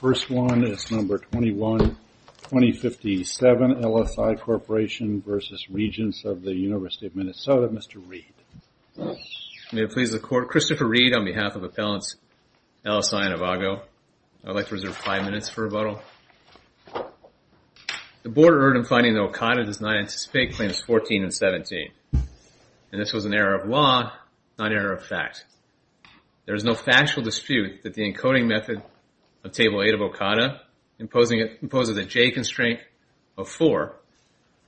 Christopher Reed on behalf of Appellants LSI and EVAGO. I would like to reserve five minutes for rebuttal. The Board erred in finding that OCADA does not anticipate Claims 14 and 17. This was an error of law, not error of fact. There is no factual dispute that the encoding method of Table 8 of OCADA imposes a J-Constraint of 4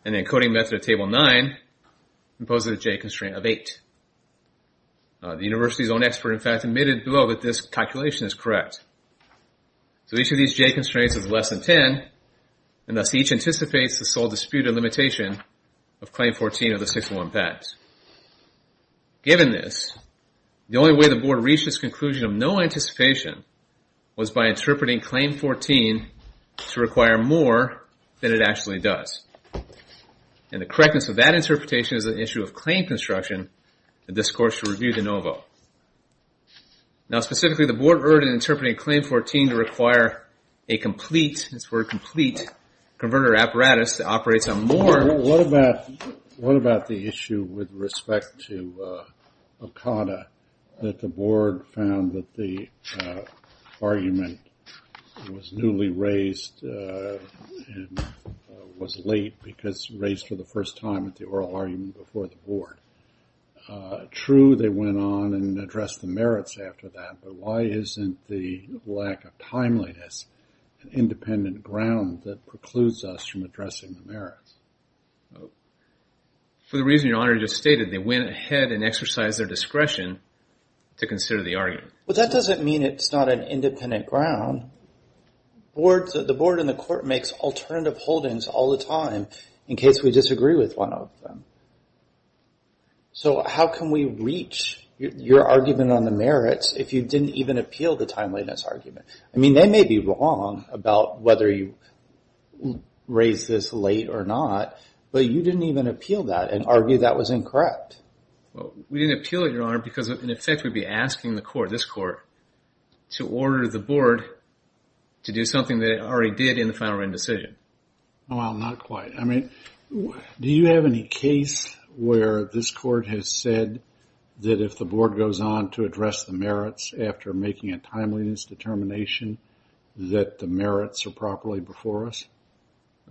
and the encoding method of Table 9 imposes a J-Constraint of 8. The University's own expert in fact admitted below that this calculation is correct. So each of these J-Constraints is less than 10, and thus each anticipates the sole disputed limitation of Claim 14 of the 611 Pact. Given this, the only way the was by interpreting Claim 14 to require more than it actually does. And the correctness of that interpretation is an issue of Claim Construction, a discourse to review de novo. Now specifically the Board erred in interpreting Claim 14 to require a complete, this word complete, Converter Apparatus that operates on more than... argument was newly raised and was late because raised for the first time at the oral argument before the Board. True, they went on and addressed the merits after that, but why isn't the lack of timeliness, an independent ground that precludes us from addressing the merits? For the reason Your Honor just stated, they went ahead and exercised their discretion to consider the argument. Well that doesn't mean it's not an independent ground. The Board and the Court makes alternative holdings all the time in case we disagree with one of them. So how can we reach your argument on the merits if you didn't even appeal the timeliness argument? I mean they may be wrong about whether you raised this late or not, but you didn't even because in effect we'd be asking the Court, this Court, to order the Board to do something they already did in the final written decision. Well not quite. I mean, do you have any case where this Court has said that if the Board goes on to address the merits after making a timeliness determination that the merits are properly before us?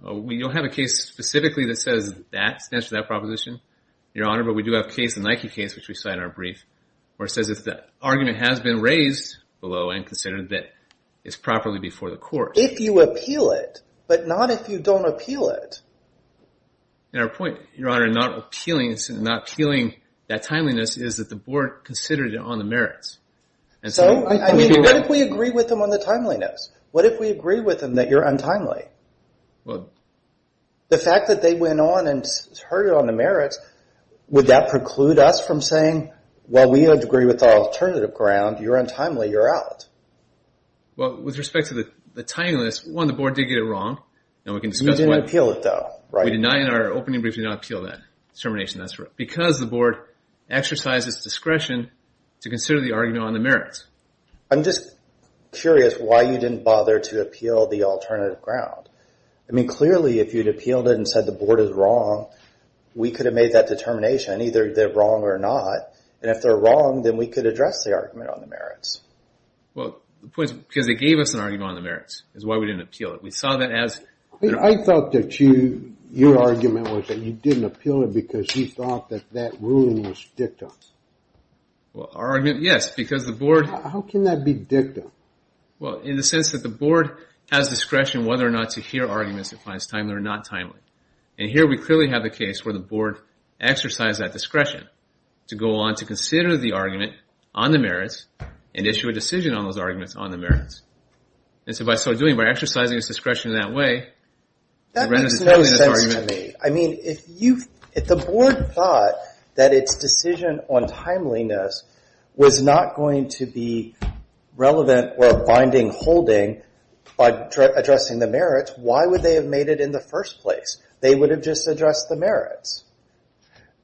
We don't have a case specifically that says that, stands for that proposition, Your Honor, but we do have a case, the Nike case, which we cite in our brief, where it says if the argument has been raised below and considered that it's properly before the Court. If you appeal it, but not if you don't appeal it. And our point, Your Honor, in not appealing that timeliness is that the Board considered it on the merits. So, I mean, what if we agree with them on the timeliness? What if we agree with them that you're untimely? The fact that they went on and heard it on the merits, would that preclude us from saying, well, we agree with the alternative ground, you're untimely, you're out? Well, with respect to the timeliness, one, the Board did get it wrong. You didn't appeal it, though, right? We deny in our opening brief that you did not appeal that determination. That's right. Because the Board exercised its discretion to consider the argument on the merits. I'm just curious why you didn't bother to appeal the alternative ground. I mean, clearly, if you'd appealed it and said the Board is wrong, we could have made that determination, either they're wrong or not. And if they're wrong, then we could address the argument on the merits. Well, the point is because they gave us an argument on the merits, is why we didn't appeal it. We saw that as... I thought that you, your argument was that you didn't appeal it because you thought that that ruling was dicta. Well, our argument, yes, because the Board... How can that be dicta? Well, in the sense that the Board has discretion whether or not to hear arguments that find timely or not timely. And here we clearly have a case where the Board exercised that discretion to go on to consider the argument on the merits and issue a decision on those arguments on the merits. And so by exercising its discretion in that way... That makes no sense to me. I mean, if the Board thought that its decision on timeliness was not going to be relevant or a binding holding by addressing the merits, why would they have made it in the first place? They would have just addressed the merits.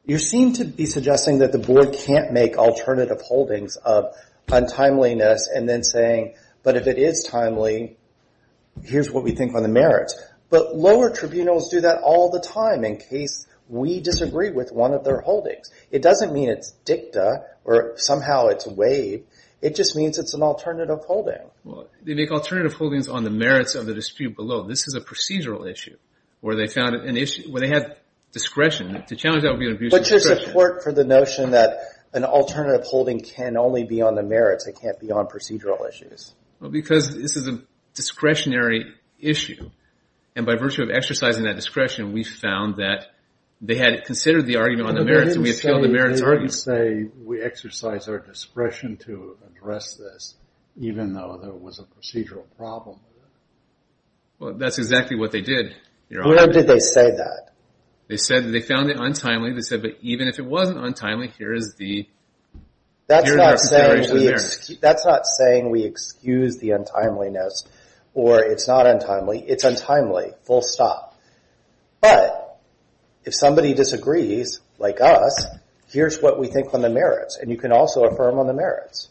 You seem to be suggesting that the Board can't make alternative holdings of untimeliness and then saying, but if it is timely, here's what we think on the merits. But lower tribunals do that all the time in case we disagree with one of their holdings. It doesn't mean it's dicta or somehow it's waived. It just means it's an alternative holding. Well, they make alternative holdings on the merits of the dispute below. This is a procedural issue where they found an issue... where they had discretion. To challenge that would be an abuse of discretion. What's your support for the notion that an alternative holding can only be on the merits and can't be on procedural issues? Because this is a discretionary issue. And by virtue of exercising that discretion, we found that they had considered the argument on the merits and we appealed the merits argument. But they didn't say, we exercise our discretion to address this, even though there was a procedural problem. That's exactly what they did, Your Honor. When did they say that? They said that they found it untimely. They said, but even if it wasn't untimely, here is the untimeliness. Or it's not untimely, it's untimely, full stop. But if somebody disagrees, like us, here's what we think on the merits. And you can also affirm on the merits.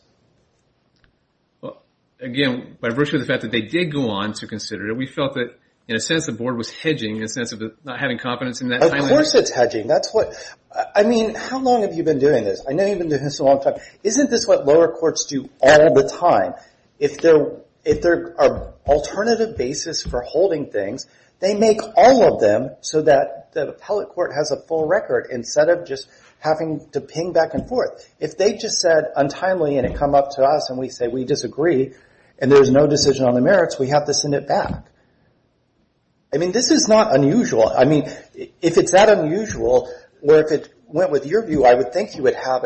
Again, by virtue of the fact that they did go on to consider it, we felt that in a sense the Board was hedging in a sense of not having confidence in that timeliness. Of course it's hedging. I mean, how long have you been doing this? I know you've been doing this a long time. Isn't this what lower courts do all the time? If there are alternative basis for holding things, they make all of them so that the appellate court has a full record instead of just having to ping back and forth. If they just said untimely and it come up to us and we say we disagree and there's no decision on the merits, we have to send it back. I mean, this is not unusual. I mean, if it's that unusual, or if it went with your view, I would think you would have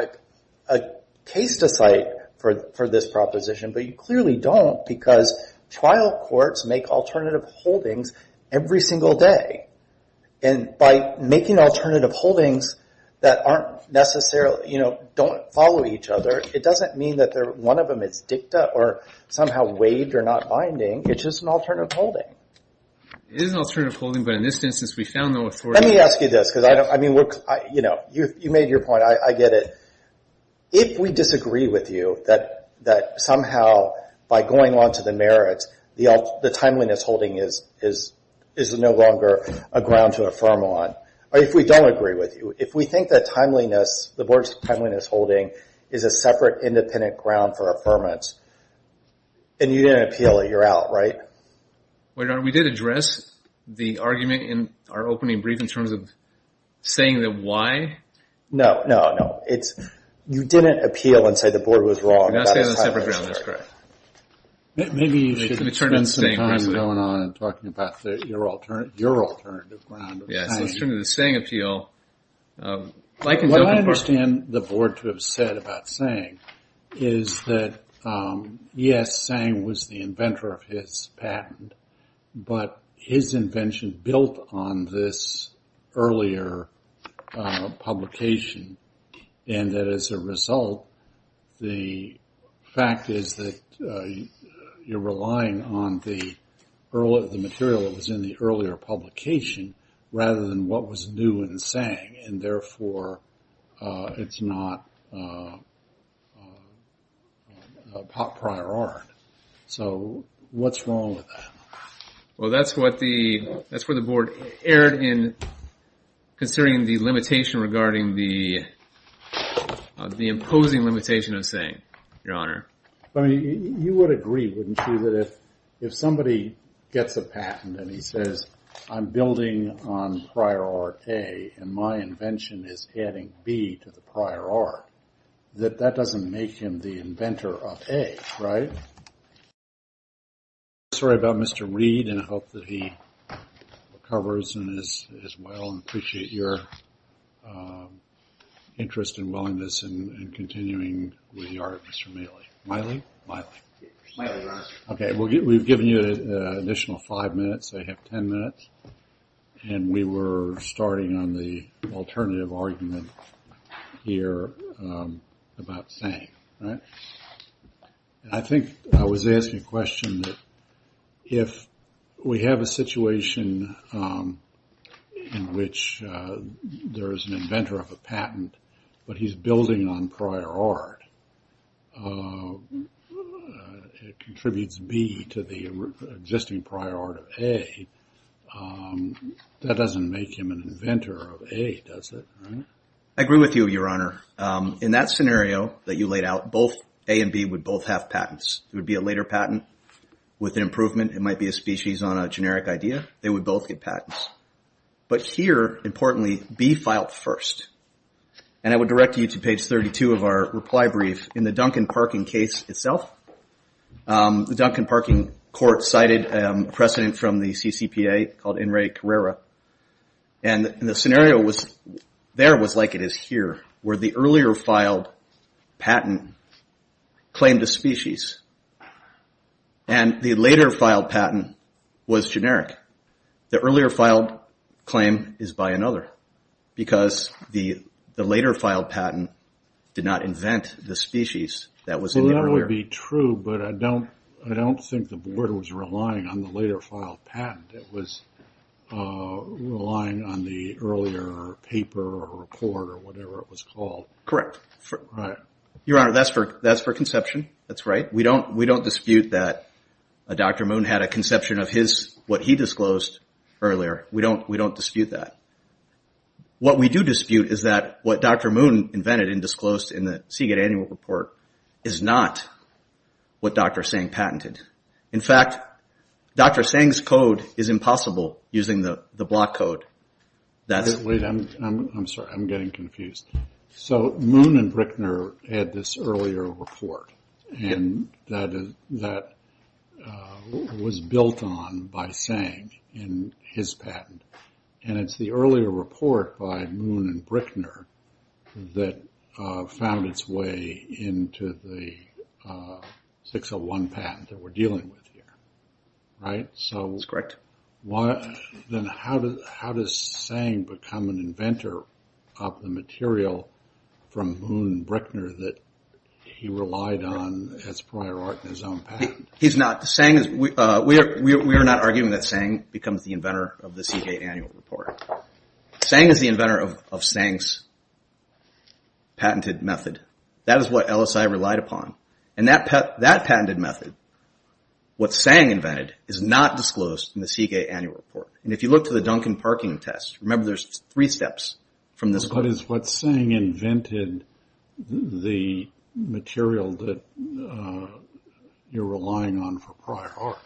a case to cite for this proposition. But you clearly don't because trial courts make alternative holdings every single day. And by making alternative holdings that aren't necessarily, don't follow each other, it doesn't mean that one of them is dicta or somehow waived or not binding. It's just an alternative holding. It is an alternative holding, but in this instance we found no authority. Let me ask you this. You made your point. I get it. If we disagree with you that somehow by going on to the merits, the timeliness holding is no longer a ground to affirm on, or if we don't agree with you, if we think that the board's timeliness holding is a separate independent ground for affirmance, and you didn't appeal it, you're out, right? We did address the argument in our opening brief in terms of saying the why. No, no, no. You didn't appeal and say the board was wrong. You're not saying it's a separate ground. That's correct. Maybe you should spend some time going on and talking about your alternative ground. Yes, let's turn to the saying appeal. What I understand the board to have said about saying is that, yes, Sang was the inventor of his patent, but his invention built on this earlier publication, and that as a result, the fact is that you're relying on the material that was in the earlier publication rather than what was new in Sang, and therefore it's not prior art. So what's wrong with that? Well, that's where the board erred in considering the limitation regarding the imposing limitation of Sang, Your Honor. You would agree, wouldn't you, that if somebody gets a patent and he says, I'm building on prior art A, and my invention is adding B to the prior art, that that doesn't make him the inventor of A, right? I'm sorry about Mr. Reed, and I hope that he recovers and is well, and appreciate your interest and willingness in continuing with the art of Mr. Maile. Maile? Maile. Maile, Your Honor. Okay, we've given you an additional five minutes. I have ten minutes, and we were starting on the alternative argument here about Sang, right? I think I was asking a question that if we have a situation in which there is an inventor of a patent, but he's building on prior art, contributes B to the existing prior art of A, that doesn't make him an inventor of A, does it? I agree with you, Your Honor. In that scenario that you laid out, both A and B would both have patents. It would be a later patent with an improvement. It might be a species on a generic idea. They would both get patents. But here, importantly, B filed first. And I would direct you to page 32 of our reply brief. In the Duncan Parking case itself, the Duncan Parking court cited a precedent from the CCPA called In Re Carrera. And the scenario there was like it is here, where the earlier filed patent claimed a species, and the later filed patent was generic. The earlier filed claim is by another because the later filed patent did not invent the species that was in the earlier. Well, that would be true, but I don't think the board was relying on the later filed patent. It was relying on the earlier paper or report or whatever it was called. Correct. Right. Your Honor, that's for conception. That's right. We don't dispute that Dr. Moon had a conception of what he disclosed earlier. We don't dispute that. What we do dispute is that what Dr. Moon invented and disclosed in the Seagate Annual Report is not what Dr. Sang patented. In fact, Dr. Sang's code is impossible using the block code. Wait, I'm sorry. I'm getting confused. So Moon and Brickner had this earlier report, and that was built on by Sang in his patent. And it's the earlier report by Moon and Brickner that found its way into the 601 patent that we're dealing with here. Right? That's correct. Then how does Sang become an inventor of the material from Moon and Brickner that he relied on as prior art in his own patent? We are not arguing that Sang becomes the inventor of the Seagate Annual Report. Sang is the inventor of Sang's patented method. That is what LSI relied upon. And that patented method, what Sang invented, is not disclosed in the Seagate Annual Report. And if you look to the Duncan parking test, remember there's three steps from this one. But is what Sang invented the material that you're relying on for prior art?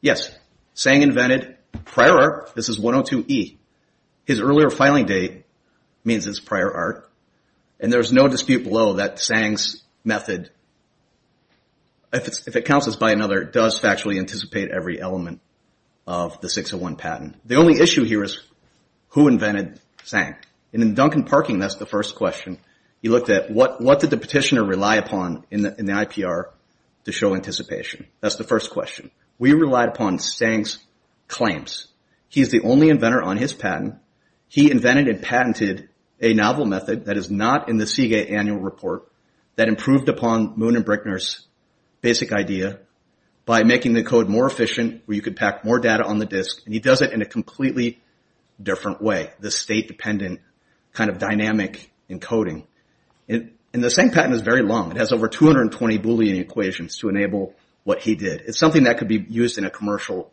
Yes. Sang invented prior art. This is 102E. His earlier filing date means it's prior art. And there's no dispute below that Sang's method, if it counts as by another, does factually anticipate every element of the 601 patent. The only issue here is who invented Sang. And in Duncan parking, that's the first question. He looked at what did the petitioner rely upon in the IPR to show anticipation. That's the first question. We relied upon Sang's claims. He's the only inventor on his patent. He invented and patented a novel method that is not in the Seagate Annual Report that improved upon Moon and Brickner's basic idea by making the code more efficient where you could pack more data on the disk. And he does it in a completely different way, the state-dependent kind of dynamic encoding. And the Sang patent is very long. It has over 220 Boolean equations to enable what he did. It's something that could be used in a commercial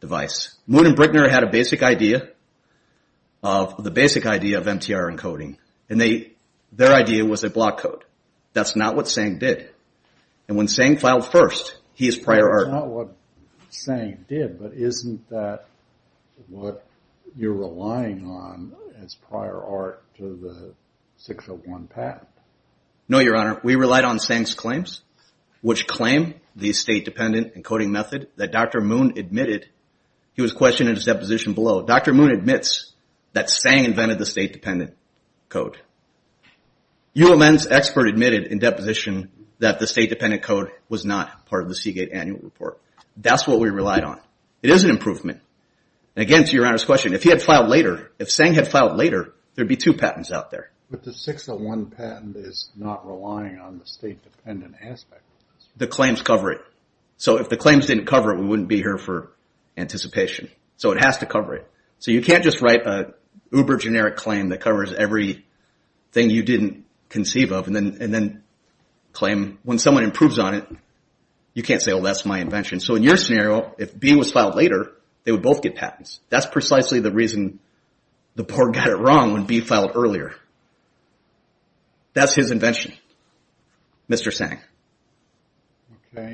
device. Moon and Brickner had a basic idea of the basic idea of MTR encoding, and their idea was a block code. That's not what Sang did. And when Sang filed first, he is prior art. It's not what Sang did, but isn't that what you're relying on as prior art to the 601 patent? No, Your Honor. We relied on Sang's claims, which claim the state-dependent encoding method that Dr. Moon admitted. He was questioned in his deposition below. Dr. Moon admits that Sang invented the state-dependent code. U.M.'s expert admitted in deposition that the state-dependent code was not part of the Seagate Annual Report. That's what we relied on. It is an improvement. And again, to Your Honor's question, if he had filed later, if Sang had filed later, there would be two patents out there. But the 601 patent is not relying on the state-dependent aspect. The claims cover it. So if the claims didn't cover it, we wouldn't be here for anticipation. So it has to cover it. So you can't just write an uber-generic claim that covers everything you didn't conceive of and then claim when someone improves on it, you can't say, oh, that's my invention. So in your scenario, if B was filed later, they would both get patents. That's precisely the reason the board got it wrong when B filed earlier. That's his invention, Mr. Sang. Okay.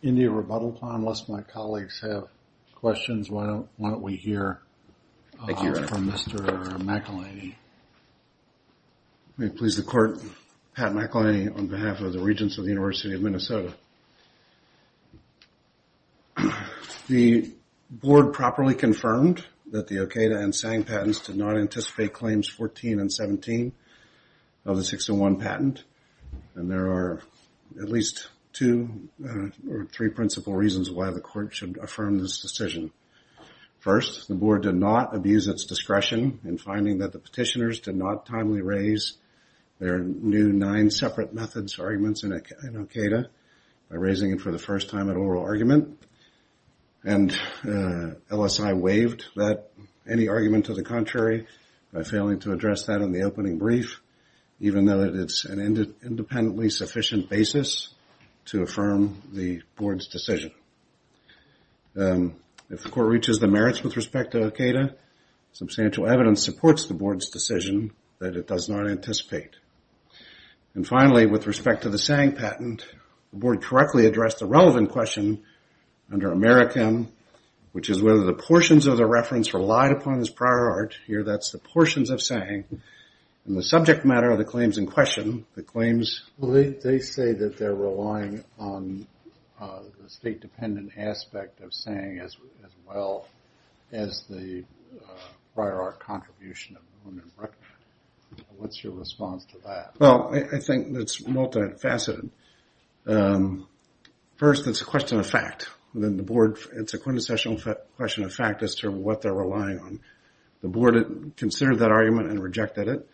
In the rebuttal plan, unless my colleagues have questions, why don't we hear from Mr. McElhinney. May it please the Court, Pat McElhinney, on behalf of the Regents of the University of Minnesota. The board properly confirmed that the Okada and Sang patents did not anticipate claims 14 and 17 of the 601 patent. And there are at least two or three principal reasons why the Court should affirm this decision. First, the board did not abuse its discretion in finding that the petitioners did not timely raise their new nine separate methods arguments in Okada by raising it for the first time at oral argument. And LSI waived any argument to the contrary by failing to address that in the opening brief, even though it's an independently sufficient basis to affirm the board's decision. If the Court reaches the merits with respect to Okada, substantial evidence supports the board's decision that it does not anticipate. And finally, with respect to the Sang patent, the board correctly addressed the relevant question under Americam, which is whether the portions of the reference relied upon his prior art. Here, that's the portions of Sang. And the subject matter of the claims in question, the claims... Well, they say that they're relying on the state-dependent aspect of Sang as well as the prior art contribution. What's your response to that? Well, I think it's multifaceted. First, it's a question of fact. Then the board, it's a quintessential question of fact as to what they're relying on. The board considered that argument and rejected it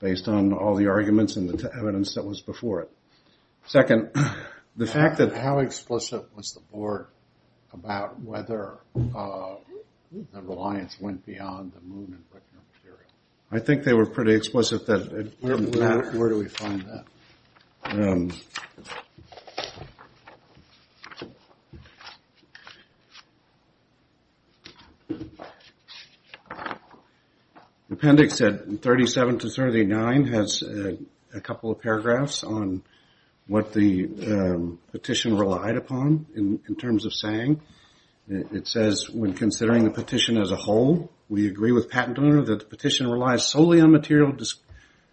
based on all the arguments and the evidence that was before it. Second, the fact that... How explicit was the board about whether the reliance went beyond the Moon and Brickner material? I think they were pretty explicit that... Where do we find that? Appendix 37-39 has a couple of paragraphs on what the petition relied upon in terms of Sang. It says, when considering the petition as a whole, we agree with patent owner that the petition relies solely on material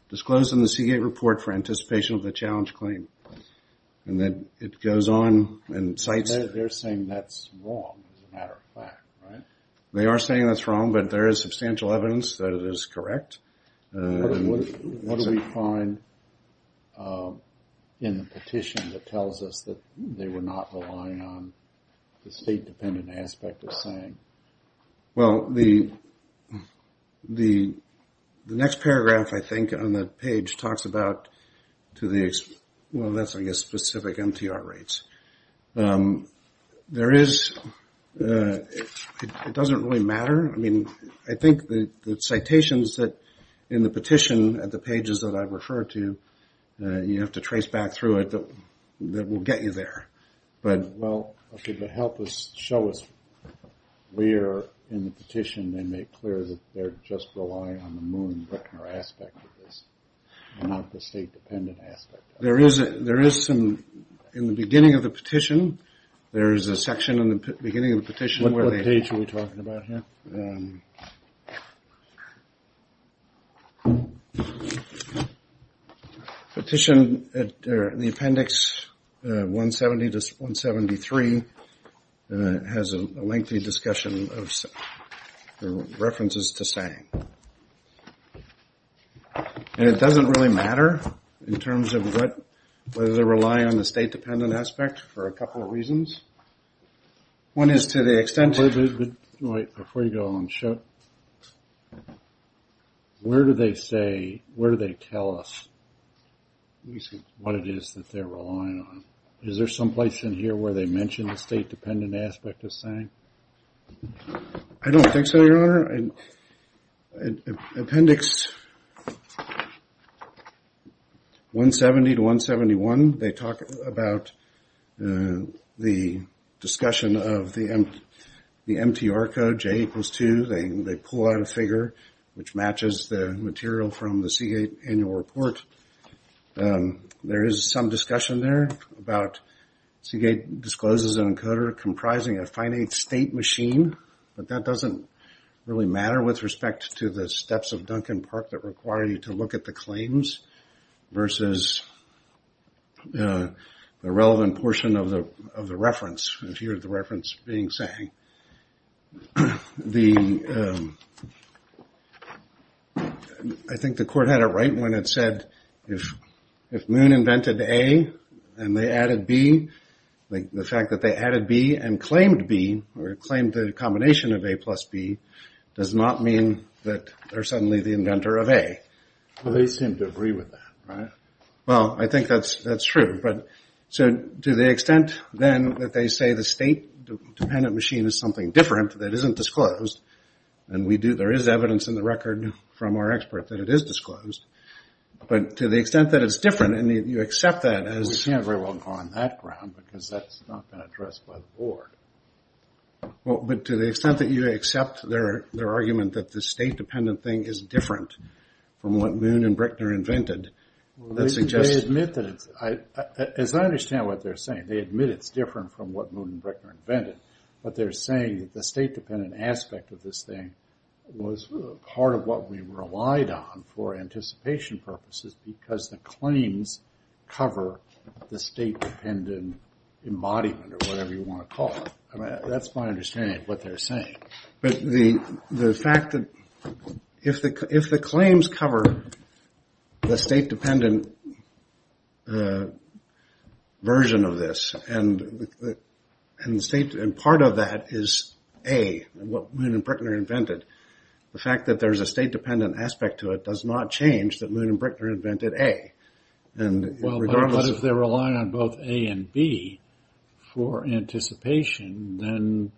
disclosed in the Seagate report for anticipation of the challenge claim. And then it goes on and cites... They're saying that's wrong as a matter of fact, right? They are saying that's wrong, but there is substantial evidence that it is correct. What do we find in the petition that tells us that they were not relying on the state-dependent aspect of Sang? Well, the next paragraph, I think, on that page talks about to the... Well, that's, I guess, specific MTR rates. There is... It doesn't really matter. I mean, I think the citations in the petition at the pages that I've referred to, you have to trace back through it. That will get you there. But, well, should it help us show us where in the petition they make clear that they're just relying on the Moon-Brickner aspect of this and not the state-dependent aspect? There is some... In the beginning of the petition, there is a section in the beginning of the petition... What page are we talking about here? Petition, the appendix 170 to 173 has a lengthy discussion of references to Sang. And it doesn't really matter in terms of whether they rely on the state-dependent aspect for a couple of reasons. One is to the extent... Wait, before you go on, show... Where do they say, where do they tell us what it is that they're relying on? Is there some place in here where they mention I don't think so, Your Honor. Appendix 170 to 171, they talk about the discussion of the MTR code, J equals 2. They pull out a figure which matches the material from the Seagate annual report. There is some discussion there about Seagate discloses an encoder comprising a finite state machine, but that doesn't really matter with respect to the steps of Duncan Park that require you to look at the claims versus the relevant portion of the reference, if you hear the reference being sang. I think the court had it right when it said if Moon invented A and they added B, the fact that they added B and claimed B, or claimed the combination of A plus B, does not mean that they're suddenly the inventor of A. Well, they seem to agree with that, right? Well, I think that's true, but to the extent then that they say the state-dependent machine is something different that isn't disclosed, and there is evidence in the record from our expert that it is disclosed, but to the extent that it's different, and you accept that as... We can't very well go on that ground because that's not been addressed by the board. Well, but to the extent that you accept their argument that the state-dependent thing is different from what Moon and Bruckner invented, that suggests... They admit that it's... As I understand what they're saying, they admit it's different from what Moon and Bruckner invented, but they're saying the state-dependent aspect of this thing was part of what we relied on for anticipation purposes because the claims cover the state-dependent embodiment or whatever you want to call it. I mean, that's my understanding of what they're saying, but the fact that... If the claims cover the state-dependent version of this, and part of that is, A, what Moon and Bruckner invented, the fact that there's a state-dependent aspect to it does not change that Moon and Bruckner invented A. Well, but if they're relying on both A and B for anticipation, then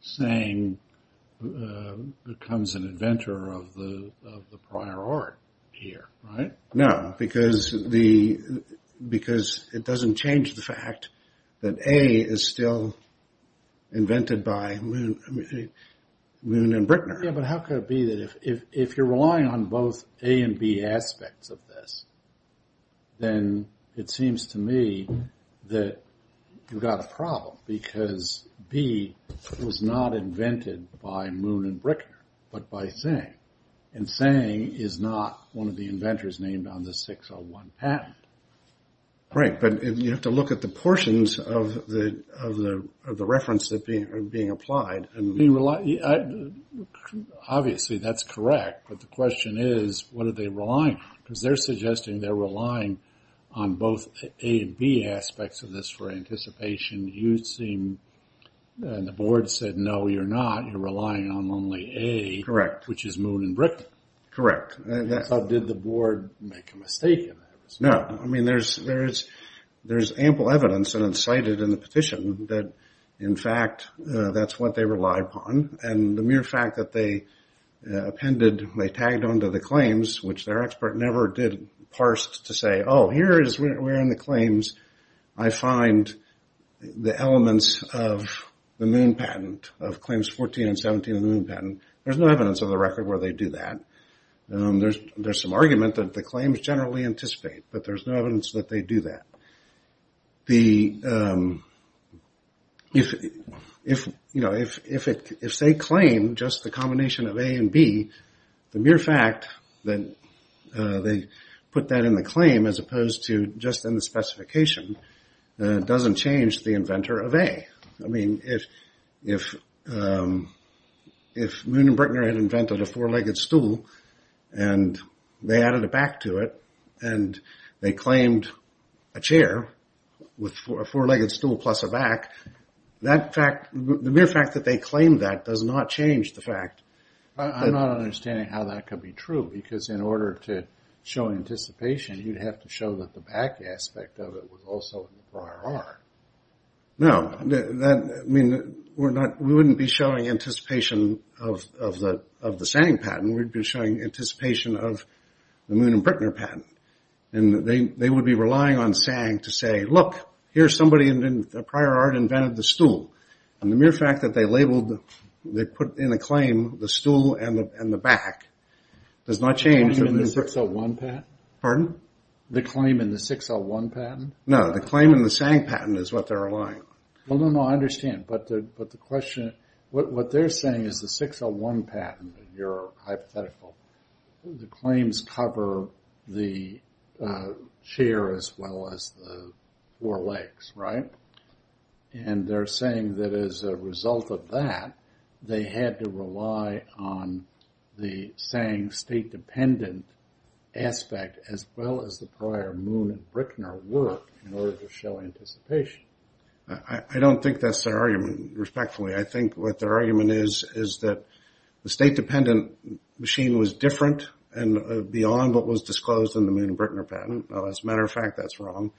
saying becomes an inventor of the prior art here, right? No, because it doesn't change the fact that A is still invented by Moon and Bruckner. Yeah, but how could it be that if you're relying on both A and B aspects of this, then it seems to me that you've got a problem because B was not invented by Moon and Bruckner, but by Tseng, and Tseng is not one of the inventors named on the 601 patent. Right, but you have to look at the portions of the reference that are being applied. Obviously, that's correct, but the question is, what are they relying on? Because they're suggesting they're relying on both A and B aspects of this for anticipation. You seem, and the board said, no, you're not, you're relying on only A, which is Moon and Bruckner. Correct. So did the board make a mistake in that? No, I mean, there's ample evidence, and it's cited in the petition, that in fact, that's what they relied upon, and the mere fact that they appended, they tagged onto the claims, which their expert never did parse to say, oh, here is where in the claims I find the elements of the Moon patent, of claims 14 and 17 of the Moon patent. There's no evidence of the record where they do that. There's some argument that the claims generally anticipate, but there's no evidence that they do that. The, if, you know, if they claim just the combination of A and B, the mere fact that they put that in the claim as opposed to just in the specification doesn't change the inventor of A. I mean, if Moon and Bruckner had invented a four-legged stool, and they added a back to it, and they claimed a chair with a four-legged stool plus a back, that fact, the mere fact that they claimed that does not change the fact. I'm not understanding how that could be true, because in order to show anticipation, you'd have to show that the back aspect of it was also in the prior art. No, that, I mean, we're not, we wouldn't be showing anticipation of the, of the same patent, we'd be showing anticipation of the Moon and Bruckner patent. And they would be relying on SANG to say, look, here's somebody in the prior art invented the stool. And the mere fact that they labeled, they put in a claim the stool and the back does not change. The claim in the 601 patent? Pardon? The claim in the 601 patent? No, the claim in the SANG patent is what they're relying on. Well, no, no, I understand, but the question, what they're saying is the 601 patent, your hypothetical, the claims cover the chair as well as the four legs, right? And they're saying that as a result of that, they had to rely on the SANG state dependent aspect as well as the prior Moon and Bruckner work in order to show anticipation. I don't think that's their argument, respectfully. I think what their argument is, is that the state dependent machine was different and beyond what was disclosed in the Moon and Bruckner patent. As a matter of fact, that's wrong.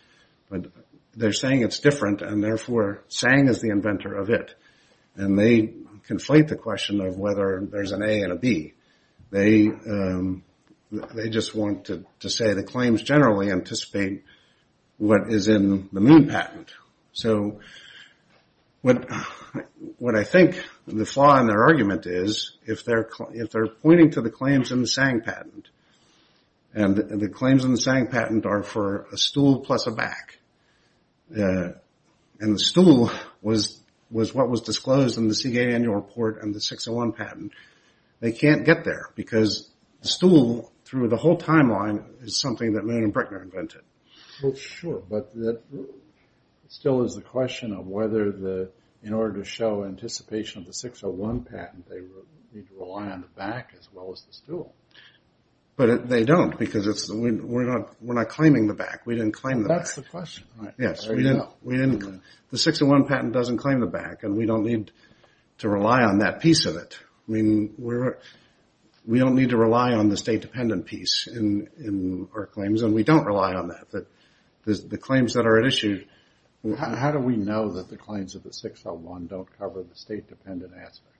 But they're saying it's different and therefore SANG is the inventor of it. And they conflate the question of whether there's an A and a B. They just want to say the claims generally anticipate what is in the Moon patent. So what I think the flaw in their argument is if they're pointing to the claims in the SANG patent and the claims in the SANG patent are for a stool plus a back and the stool was what was disclosed in the Seagate Annual Report and the 601 patent, they can't get there because the stool through the whole timeline is something that Moon and Bruckner invented. Well, sure, but it still is the question of whether in order to show anticipation of the 601 patent, they need to rely on the back as well as the stool. But they don't because we're not claiming the back. We didn't claim the back. That's the question. Yes, we didn't. The 601 patent doesn't claim the back and we don't need to rely on that piece of it. I mean, we don't need to rely on the state dependent piece in our claims and we don't rely on that. The claims that are at issue... How do we know that the claims of the 601 don't cover the state dependent aspect?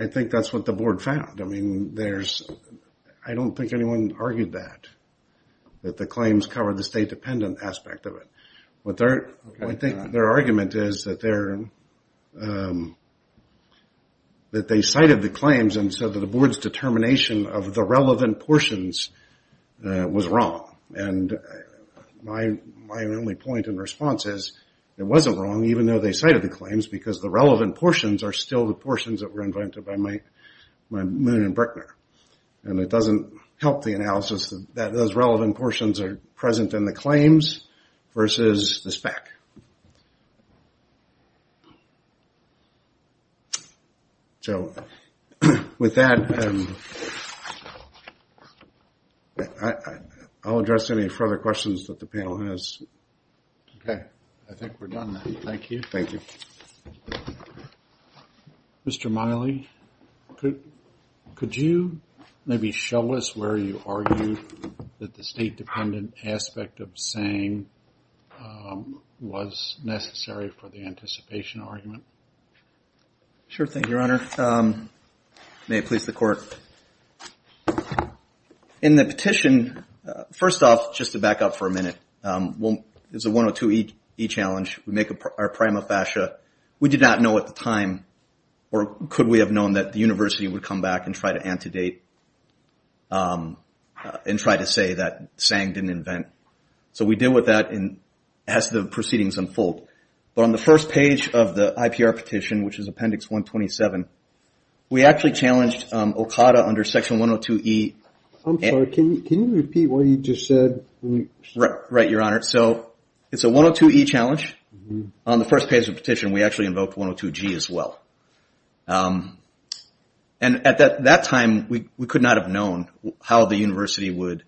I think that's what the board found. I mean, I don't think anyone argued that, that the claims cover the state dependent aspect of it. I think their argument is that they cited the claims and said that the board's determination of the relevant portions was wrong. And my only point in response is, it wasn't wrong even though they cited the claims because the relevant portions are still the portions that were invented by Moon and Brickner. And it doesn't help the analysis that those relevant portions are present in the claims versus the spec. So, with that, I'll address any further questions that the panel has. Okay, I think we're done now. Thank you. Thank you. Mr. Miley, could you maybe show us where you argue that the state dependent aspect of saying was necessary for the anticipation argument? Sure. Thank you, Your Honor. May it please the court. In the petition, first off, just to back up for a minute, there's a 102e challenge. We make our prima facie. We did not know at the time, or could we have known, that the university would come back and try to antedate and try to say that saying didn't invent. So we deal with that as the proceedings unfold. But on the first page of the IPR petition, which is appendix 127, we actually challenged OCADA under section 102e. I'm sorry, can you repeat what you just said? Right, Your Honor. So it's a 102e challenge. On the first page of the petition, we actually invoked 102g as well. And at that time, we could not have known how the university would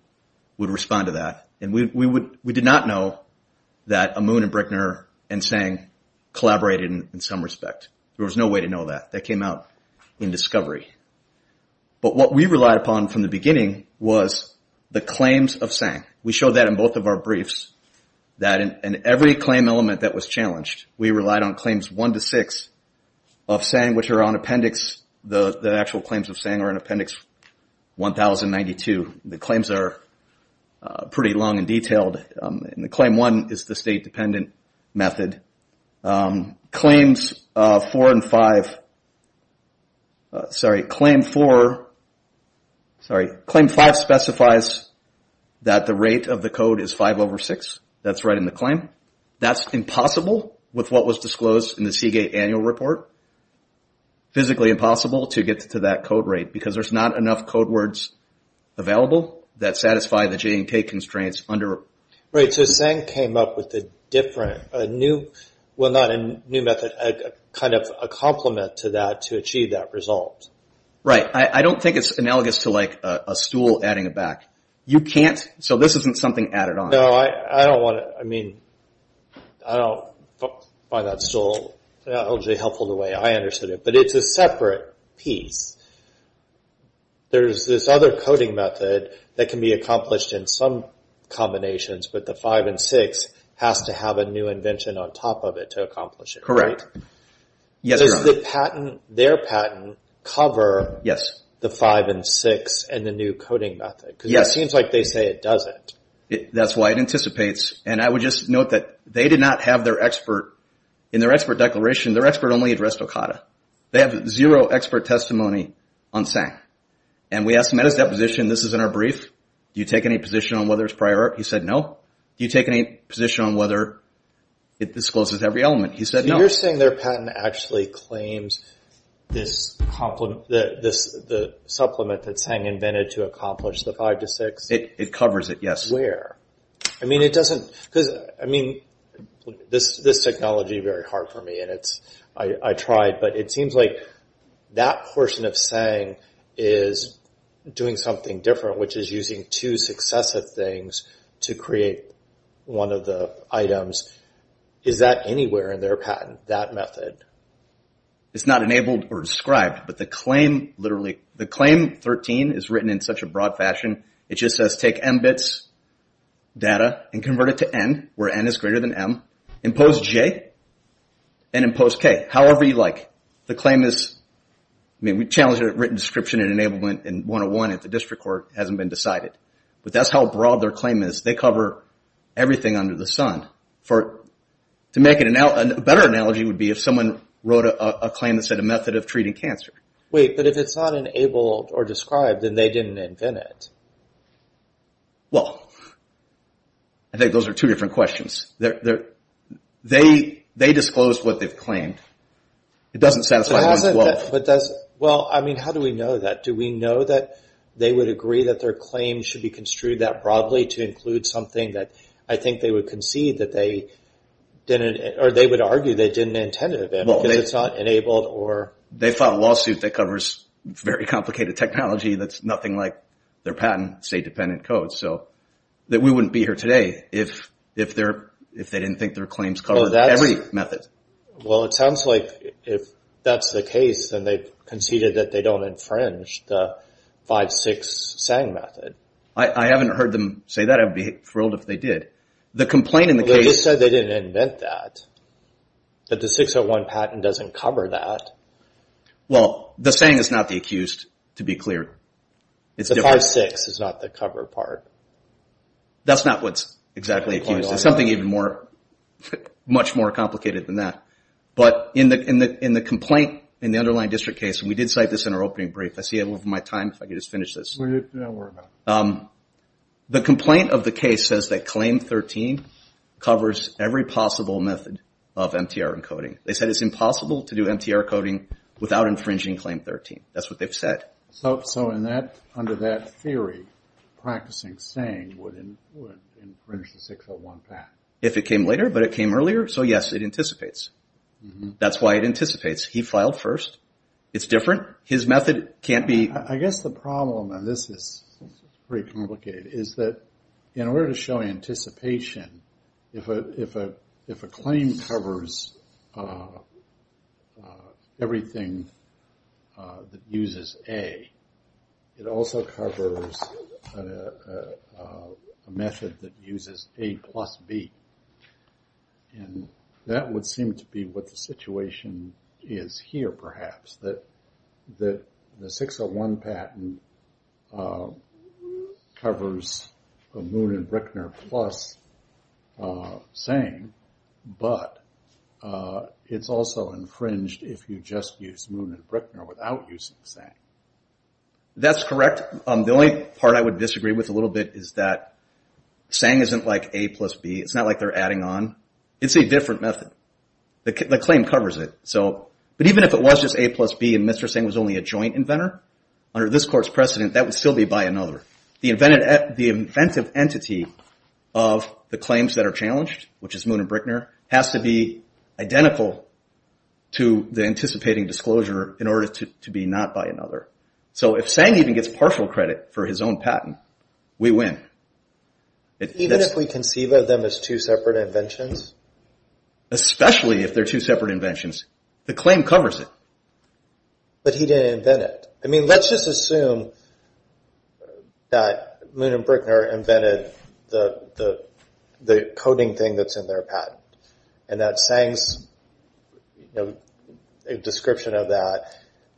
respond to that. And we did not know that Amun and Brickner and Tsang collaborated in some respect. There was no way to know that. That came out in discovery. But what we relied upon from the beginning was the claims of Tsang. We showed that in both of our briefs, that in every claim element that was challenged, we relied on claims 1 to 6 of Tsang, which are on appendix, the actual claims of Tsang are in appendix 1092. The claims are pretty long and detailed. And claim 1 is the state-dependent method. Claims 4 and 5, sorry, claim 4, sorry, claim 5 specifies that the rate of the code is 5 over 6. That's right in the claim. That's impossible with what was disclosed in the Seagate annual report. Physically impossible to get to that code rate because there's not enough code words available that satisfy the J&K constraints under... Right, so Tsang came up with a different, well not a new method, kind of a complement to that to achieve that result. Right, I don't think it's analogous to like a stool adding it back. You can't, so this isn't something added on. No, I don't want to, I mean, I don't find that stool, not only helpful the way I understood it, but it's a separate piece. There's this other coding method that can be accomplished in some combinations, but the 5 and 6 has to have a new invention on top of it to accomplish it, right? Correct. Does the patent, their patent, cover the 5 and 6 and the new coding method? Because it seems like they say it doesn't. That's why it anticipates, and I would just note that they did not have their expert, in their expert declaration, their expert only addressed Okada. They have zero expert testimony on Tsang. And we asked him at his deposition, this is in our brief, do you take any position on whether it's prior art? He said no. Do you take any position on whether it discloses every element? He said no. So you're saying their patent actually claims this complement, the supplement that Tsang invented to accomplish the 5 to 6? It covers it, yes. Where? I mean, it doesn't, because, I mean, this technology is very hard for me, and it's, I tried, but it seems like that portion of Tsang is doing something different, which is using two successive things to create one of the items. Is that anywhere in their patent, that method? It's not enabled or described, but the claim literally, the claim 13 is written in such a broad fashion, it just says take M bits, data, and convert it to N, where N is greater than M, impose J, and impose K. However you like. The claim is, I mean, we challenged it at written description and enablement, and 101 at the district court hasn't been decided. But that's how broad their claim is. They cover everything under the sun. To make it a better analogy would be if someone wrote a claim that said a method of treating cancer. Wait, but if it's not enabled or described, then they didn't invent it. Well, I think those are two different questions. They disclosed what they've claimed. It doesn't satisfy 112. Well, I mean, how do we know that? Do we know that they would agree that their claim should be construed that broadly to include something that I think they would concede that they didn't, or they would argue they didn't intend it to be, because it's not enabled or. They filed a lawsuit that covers very complicated technology that's nothing like their patent state-dependent code. So we wouldn't be here today if they didn't think their claims covered every method. Well, it sounds like if that's the case, then they've conceded that they don't infringe the 5-6 SANG method. I haven't heard them say that. I'd be thrilled if they did. The complaint in the case. They just said they didn't invent that. But the 601 patent doesn't cover that. Well, the SANG is not the accused, to be clear. The 5-6 is not the cover part. That's not what's exactly accused. It's something even more, much more complicated than that. But in the complaint in the underlying district case, and we did cite this in our opening brief. I see I'm over my time. If I could just finish this. No, worry about it. The complaint of the case says that claim 13 covers every possible method of MTR encoding. They said it's impossible to do MTR coding without infringing claim 13. That's what they've said. So under that theory, practicing SANG would infringe the 601 patent. If it came later, but it came earlier. So, yes, it anticipates. That's why it anticipates. He filed first. It's different. His method can't be. I guess the problem, and this is pretty complicated, is that in order to show anticipation, if a claim covers everything that uses A, it also covers a method that uses A plus B. And that would seem to be what the situation is here, perhaps. The 601 patent covers a Moon and Bruckner plus SANG, but it's also infringed if you just use Moon and Bruckner without using SANG. That's correct. The only part I would disagree with a little bit is that SANG isn't like A plus B. It's not like they're adding on. It's a different method. The claim covers it. But even if it was just A plus B and Mr. SANG was only a joint inventor, under this Court's precedent, that would still be by another. The inventive entity of the claims that are challenged, which is Moon and Bruckner, has to be identical to the anticipating disclosure in order to be not by another. So if SANG even gets partial credit for his own patent, we win. Even if we conceive of them as two separate inventions? Especially if they're two separate inventions. The claim covers it. But he didn't invent it. I mean, let's just assume that Moon and Bruckner invented the coding thing that's in their patent, and that SANG's description of that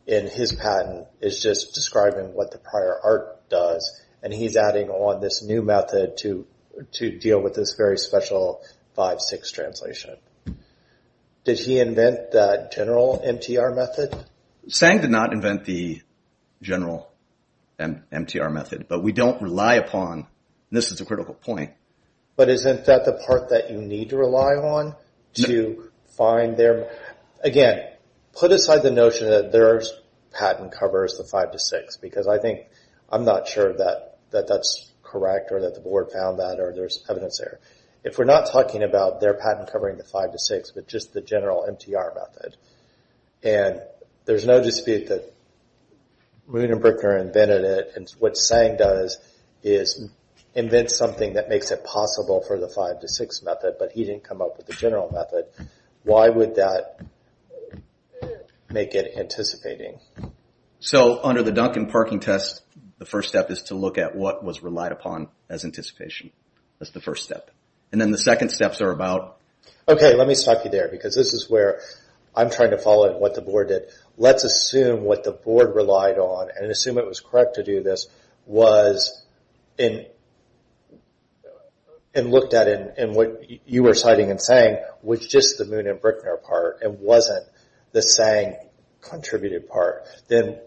in his patent is just describing what the prior art does, and he's adding on this new method to deal with this very special 5-6 translation. Did he invent that general MTR method? SANG did not invent the general MTR method. But we don't rely upon, and this is a critical point. But isn't that the part that you need to rely on to find their? Again, put aside the notion that their patent covers the 5-6, because I think I'm not sure that that's correct, or that the board found that, or there's evidence there. If we're not talking about their patent covering the 5-6, but just the general MTR method, and there's no dispute that Moon and Bruckner invented it, and what SANG does is invent something that makes it possible for the 5-6 method, but he didn't come up with the general method, why would that make it anticipating? So under the Duncan parking test, the first step is to look at what was relied upon as anticipation. That's the first step. And then the second steps are about... Okay, let me stop you there, because this is where I'm trying to follow what the board did. Let's assume what the board relied on, and assume it was correct to do this, was in, and looked at it in what you were citing in SANG, which just the Moon and Bruckner part, and wasn't the SANG contributed part, then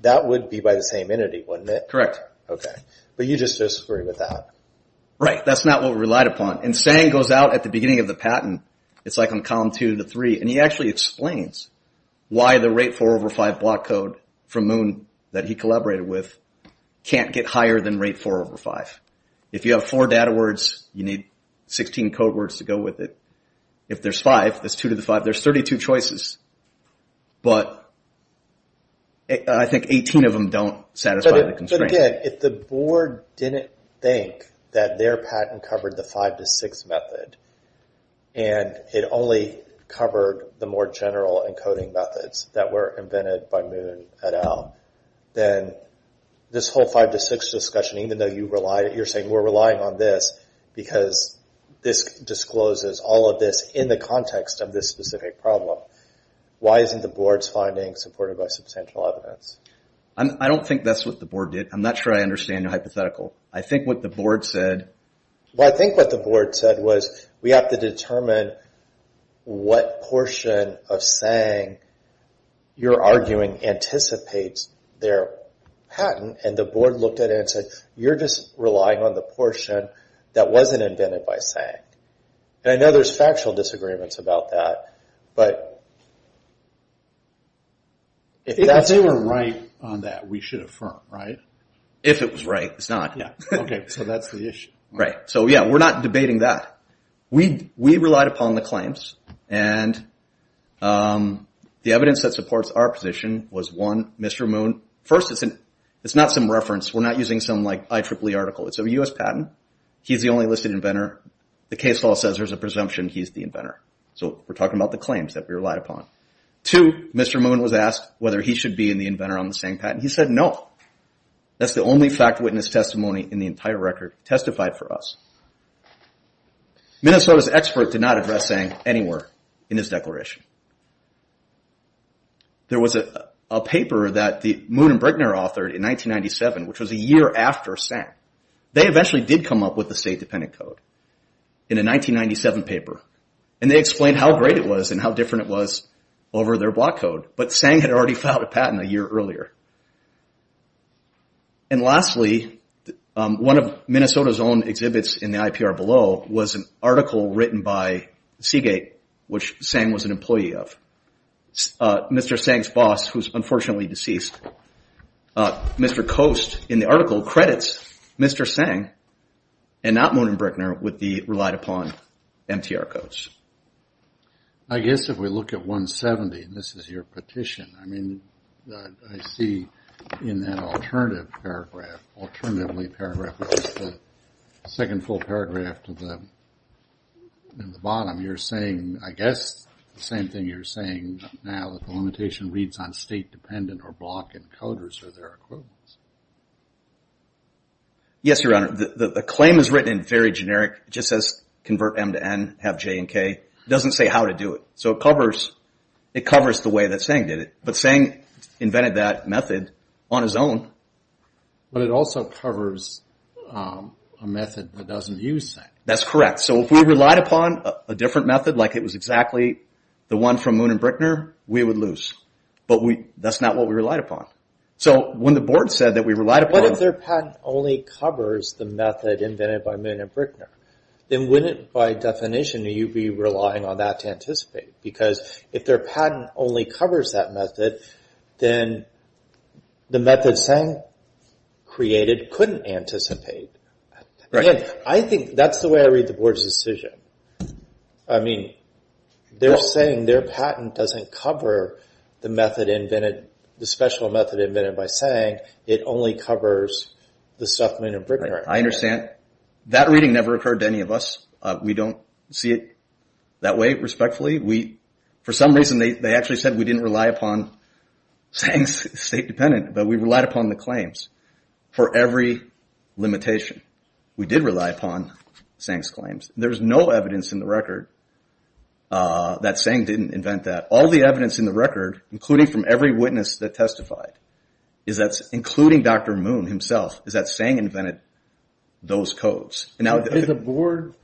that would be by the same entity, wouldn't it? Correct. Okay. But you just disagree with that. Right. That's not what we relied upon. And SANG goes out at the beginning of the patent, it's like on column 2 to 3, and he actually explains why the rate 4 over 5 block code from Moon that he collaborated with can't get higher than rate 4 over 5. If you have four data words, you need 16 code words to go with it. If there's five, that's 2 to the 5, there's 32 choices, but I think 18 of them don't satisfy the constraints. But again, if the board didn't think that their patent covered the 5 to 6 method, and it only covered the more general encoding methods that were invented by Moon et al, then this whole 5 to 6 discussion, even though you're saying we're relying on this, because this discloses all of this in the context of this specific problem. Why isn't the board's finding supported by substantial evidence? I don't think that's what the board did. I'm not sure I understand your hypothetical. I think what the board said... Well, I think what the board said was, we have to determine what portion of SANG you're arguing anticipates their patent, and the board looked at it and said, you're just relying on the portion that wasn't invented by SANG. And I know there's factual disagreements about that, but if that's... If they were right on that, we should affirm, right? If it was right, it's not. Okay, so that's the issue. Right. So yeah, we're not debating that. We relied upon the claims, and the evidence that supports our position was, one, Mr. Moon... First, it's not some reference. We're not using some, like, IEEE article. It's a U.S. patent. He's the only listed inventor. The case law says there's a presumption he's the inventor. So we're talking about the claims that we relied upon. Two, Mr. Moon was asked whether he should be in the inventor on the SANG patent. He said no. That's the only fact-witness testimony in the entire record testified for us. Minnesota's expert did not address SANG anywhere in his declaration. There was a paper that Moon and Brickner authored in 1997, which was a year after SANG. They eventually did come up with a state-dependent code in a 1997 paper, and they explained how great it was and how different it was over their block code, but SANG had already filed a patent a year earlier. And lastly, one of Minnesota's own exhibits in the IPR below was an article written by Seagate, which SANG was an employee of. Mr. SANG's boss, who's unfortunately deceased, Mr. Coast, in the article, credits Mr. SANG and not Moon and Brickner with the relied-upon MTR codes. I guess if we look at 170, and this is your petition, I mean, I see in that alternative paragraph, alternatively paragraph, which is the second full paragraph to the bottom, you're saying, I guess, the same thing you're saying now, that the limitation reads on state-dependent or block encoders or their equivalents. Yes, Your Honor, the claim is written in very generic, just says convert M to N, have J and K. It doesn't say how to do it, so it covers the way that SANG did it. But SANG invented that method on his own. But it also covers a method that doesn't use SANG. That's correct. So if we relied upon a different method, like it was exactly the one from Moon and Brickner, we would lose. But that's not what we relied upon. So when the board said that we relied upon... But if their patent only covers the method invented by Moon and Brickner, then wouldn't, by definition, you be relying on that to anticipate? Because if their patent only covers that method, then the method SANG created couldn't anticipate. I think that's the way I read the board's decision. I mean, they're saying their patent doesn't cover the method invented, the special method invented by SANG. It only covers the stuff Moon and Brickner invented. I understand. That reading never occurred to any of us. We don't see it that way, respectfully. For some reason, they actually said we didn't rely upon SANG's state-dependent, but we relied upon the claims for every limitation. We did rely upon SANG's claims. There's no evidence in the record that SANG didn't invent that. All the evidence in the record, including from every witness that testified, including Dr. Moon himself, is that SANG invented those codes. Did the board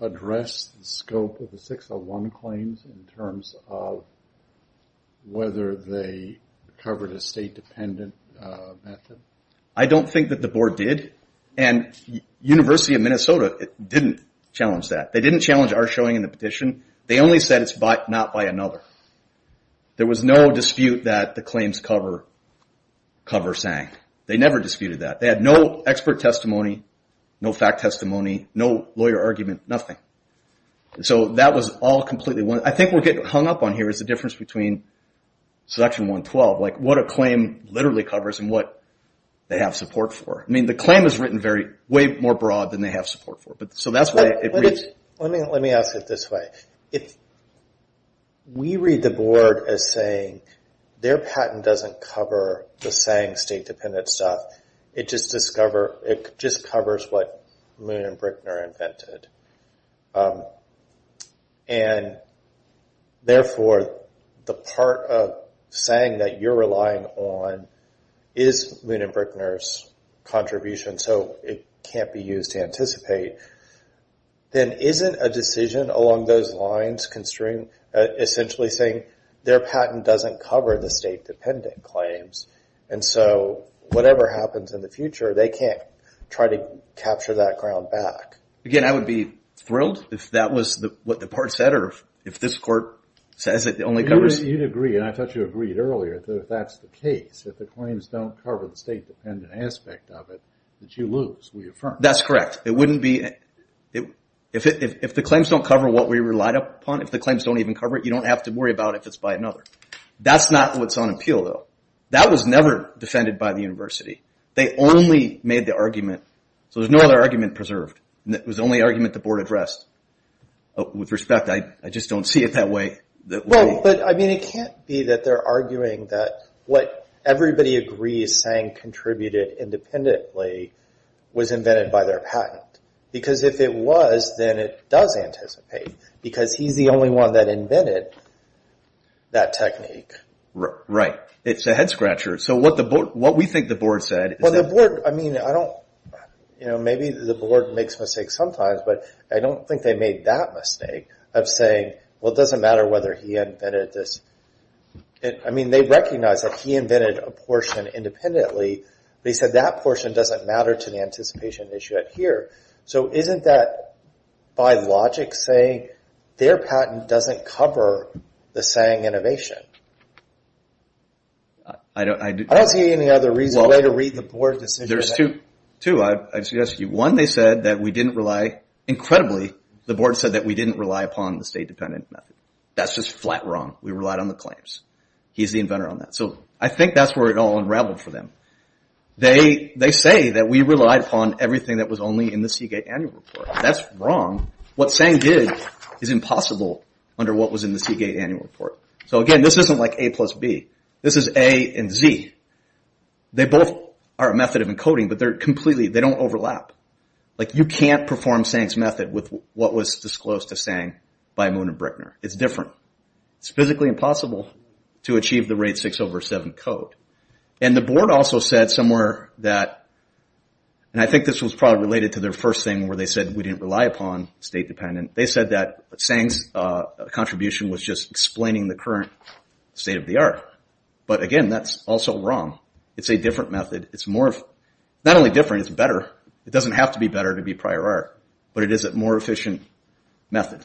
address the scope of the 601 claims in terms of whether they covered a state-dependent method? I don't think that the board did, and University of Minnesota didn't challenge that. They didn't challenge our showing in the petition. They only said it's not by another. There was no dispute that the claims cover SANG. They never disputed that. They had no expert testimony, no fact testimony, no lawyer argument, nothing. That was all completely one. I think what we're getting hung up on here is the difference between section 112, like what a claim literally covers and what they have support for. The claim is written way more broad than they have support for. That's why it reads. Let me ask it this way. We read the board as saying their patent doesn't cover the SANG state-dependent stuff. It just covers what Moon and Brickner invented. Therefore, the part of SANG that you're relying on is Moon and Brickner's contribution, so it can't be used to anticipate. Then isn't a decision along those lines essentially saying their patent doesn't cover the state-dependent claims? Whatever happens in the future, they can't try to capture that ground back. Again, I would be thrilled if that was what the part said, or if this court says it only covers... You'd agree, and I thought you agreed earlier, that if that's the case, if the claims don't cover the state-dependent aspect of it, that you lose, we affirm. That's correct. If the claims don't cover what we relied upon, if the claims don't even cover it, you don't have to worry about if it's by another. That's not what's on appeal, though. That was never defended by the university. They only made the argument, so there's no other argument preserved. It was the only argument the board addressed. With respect, I just don't see it that way. It can't be that they're arguing that what everybody agrees SANG contributed independently was invented by their patent, because if it was, then it does anticipate, because he's the only one that invented that technique. Right. It's a head-scratcher. What we think the board said... Maybe the board makes mistakes sometimes, but I don't think they made that mistake of saying, well, it doesn't matter whether he invented this. They recognize that he invented a portion independently, but he said that portion doesn't matter to the anticipation issue here. Isn't that, by logic, saying their patent doesn't cover the SANG innovation? I don't see any other way to read the board decision. There's two. One, they said that we didn't rely... Incredibly, the board said that we didn't rely upon the state-dependent method. That's just flat wrong. We relied on the claims. He's the inventor on that. I think that's where it all unraveled for them. They say that we relied upon everything that was only in the Seagate Annual Report. That's wrong. What SANG did is impossible under what was in the Seagate Annual Report. Again, this isn't like A plus B. This is A and Z. They both are a method of encoding, but they don't overlap. You can't perform SANG's method with what was disclosed to SANG by Moon and Brickner. It's different. It's physically impossible to achieve the rate 6 over 7 code. The board also said somewhere that... I think this was probably related to their first thing where they said we didn't rely upon state-dependent. They said that SANG's contribution was just explaining the current state of the art. But again, that's also wrong. It's a different method. Not only different, it's better. It doesn't have to be better to be prior art, but it is a more efficient method.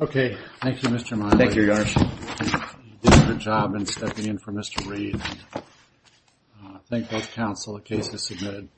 Okay. Thank you, Mr. Monk. Thank you, Your Honor. You did a good job in stepping in for Mr. Reed. Thank both counsel. The case is submitted.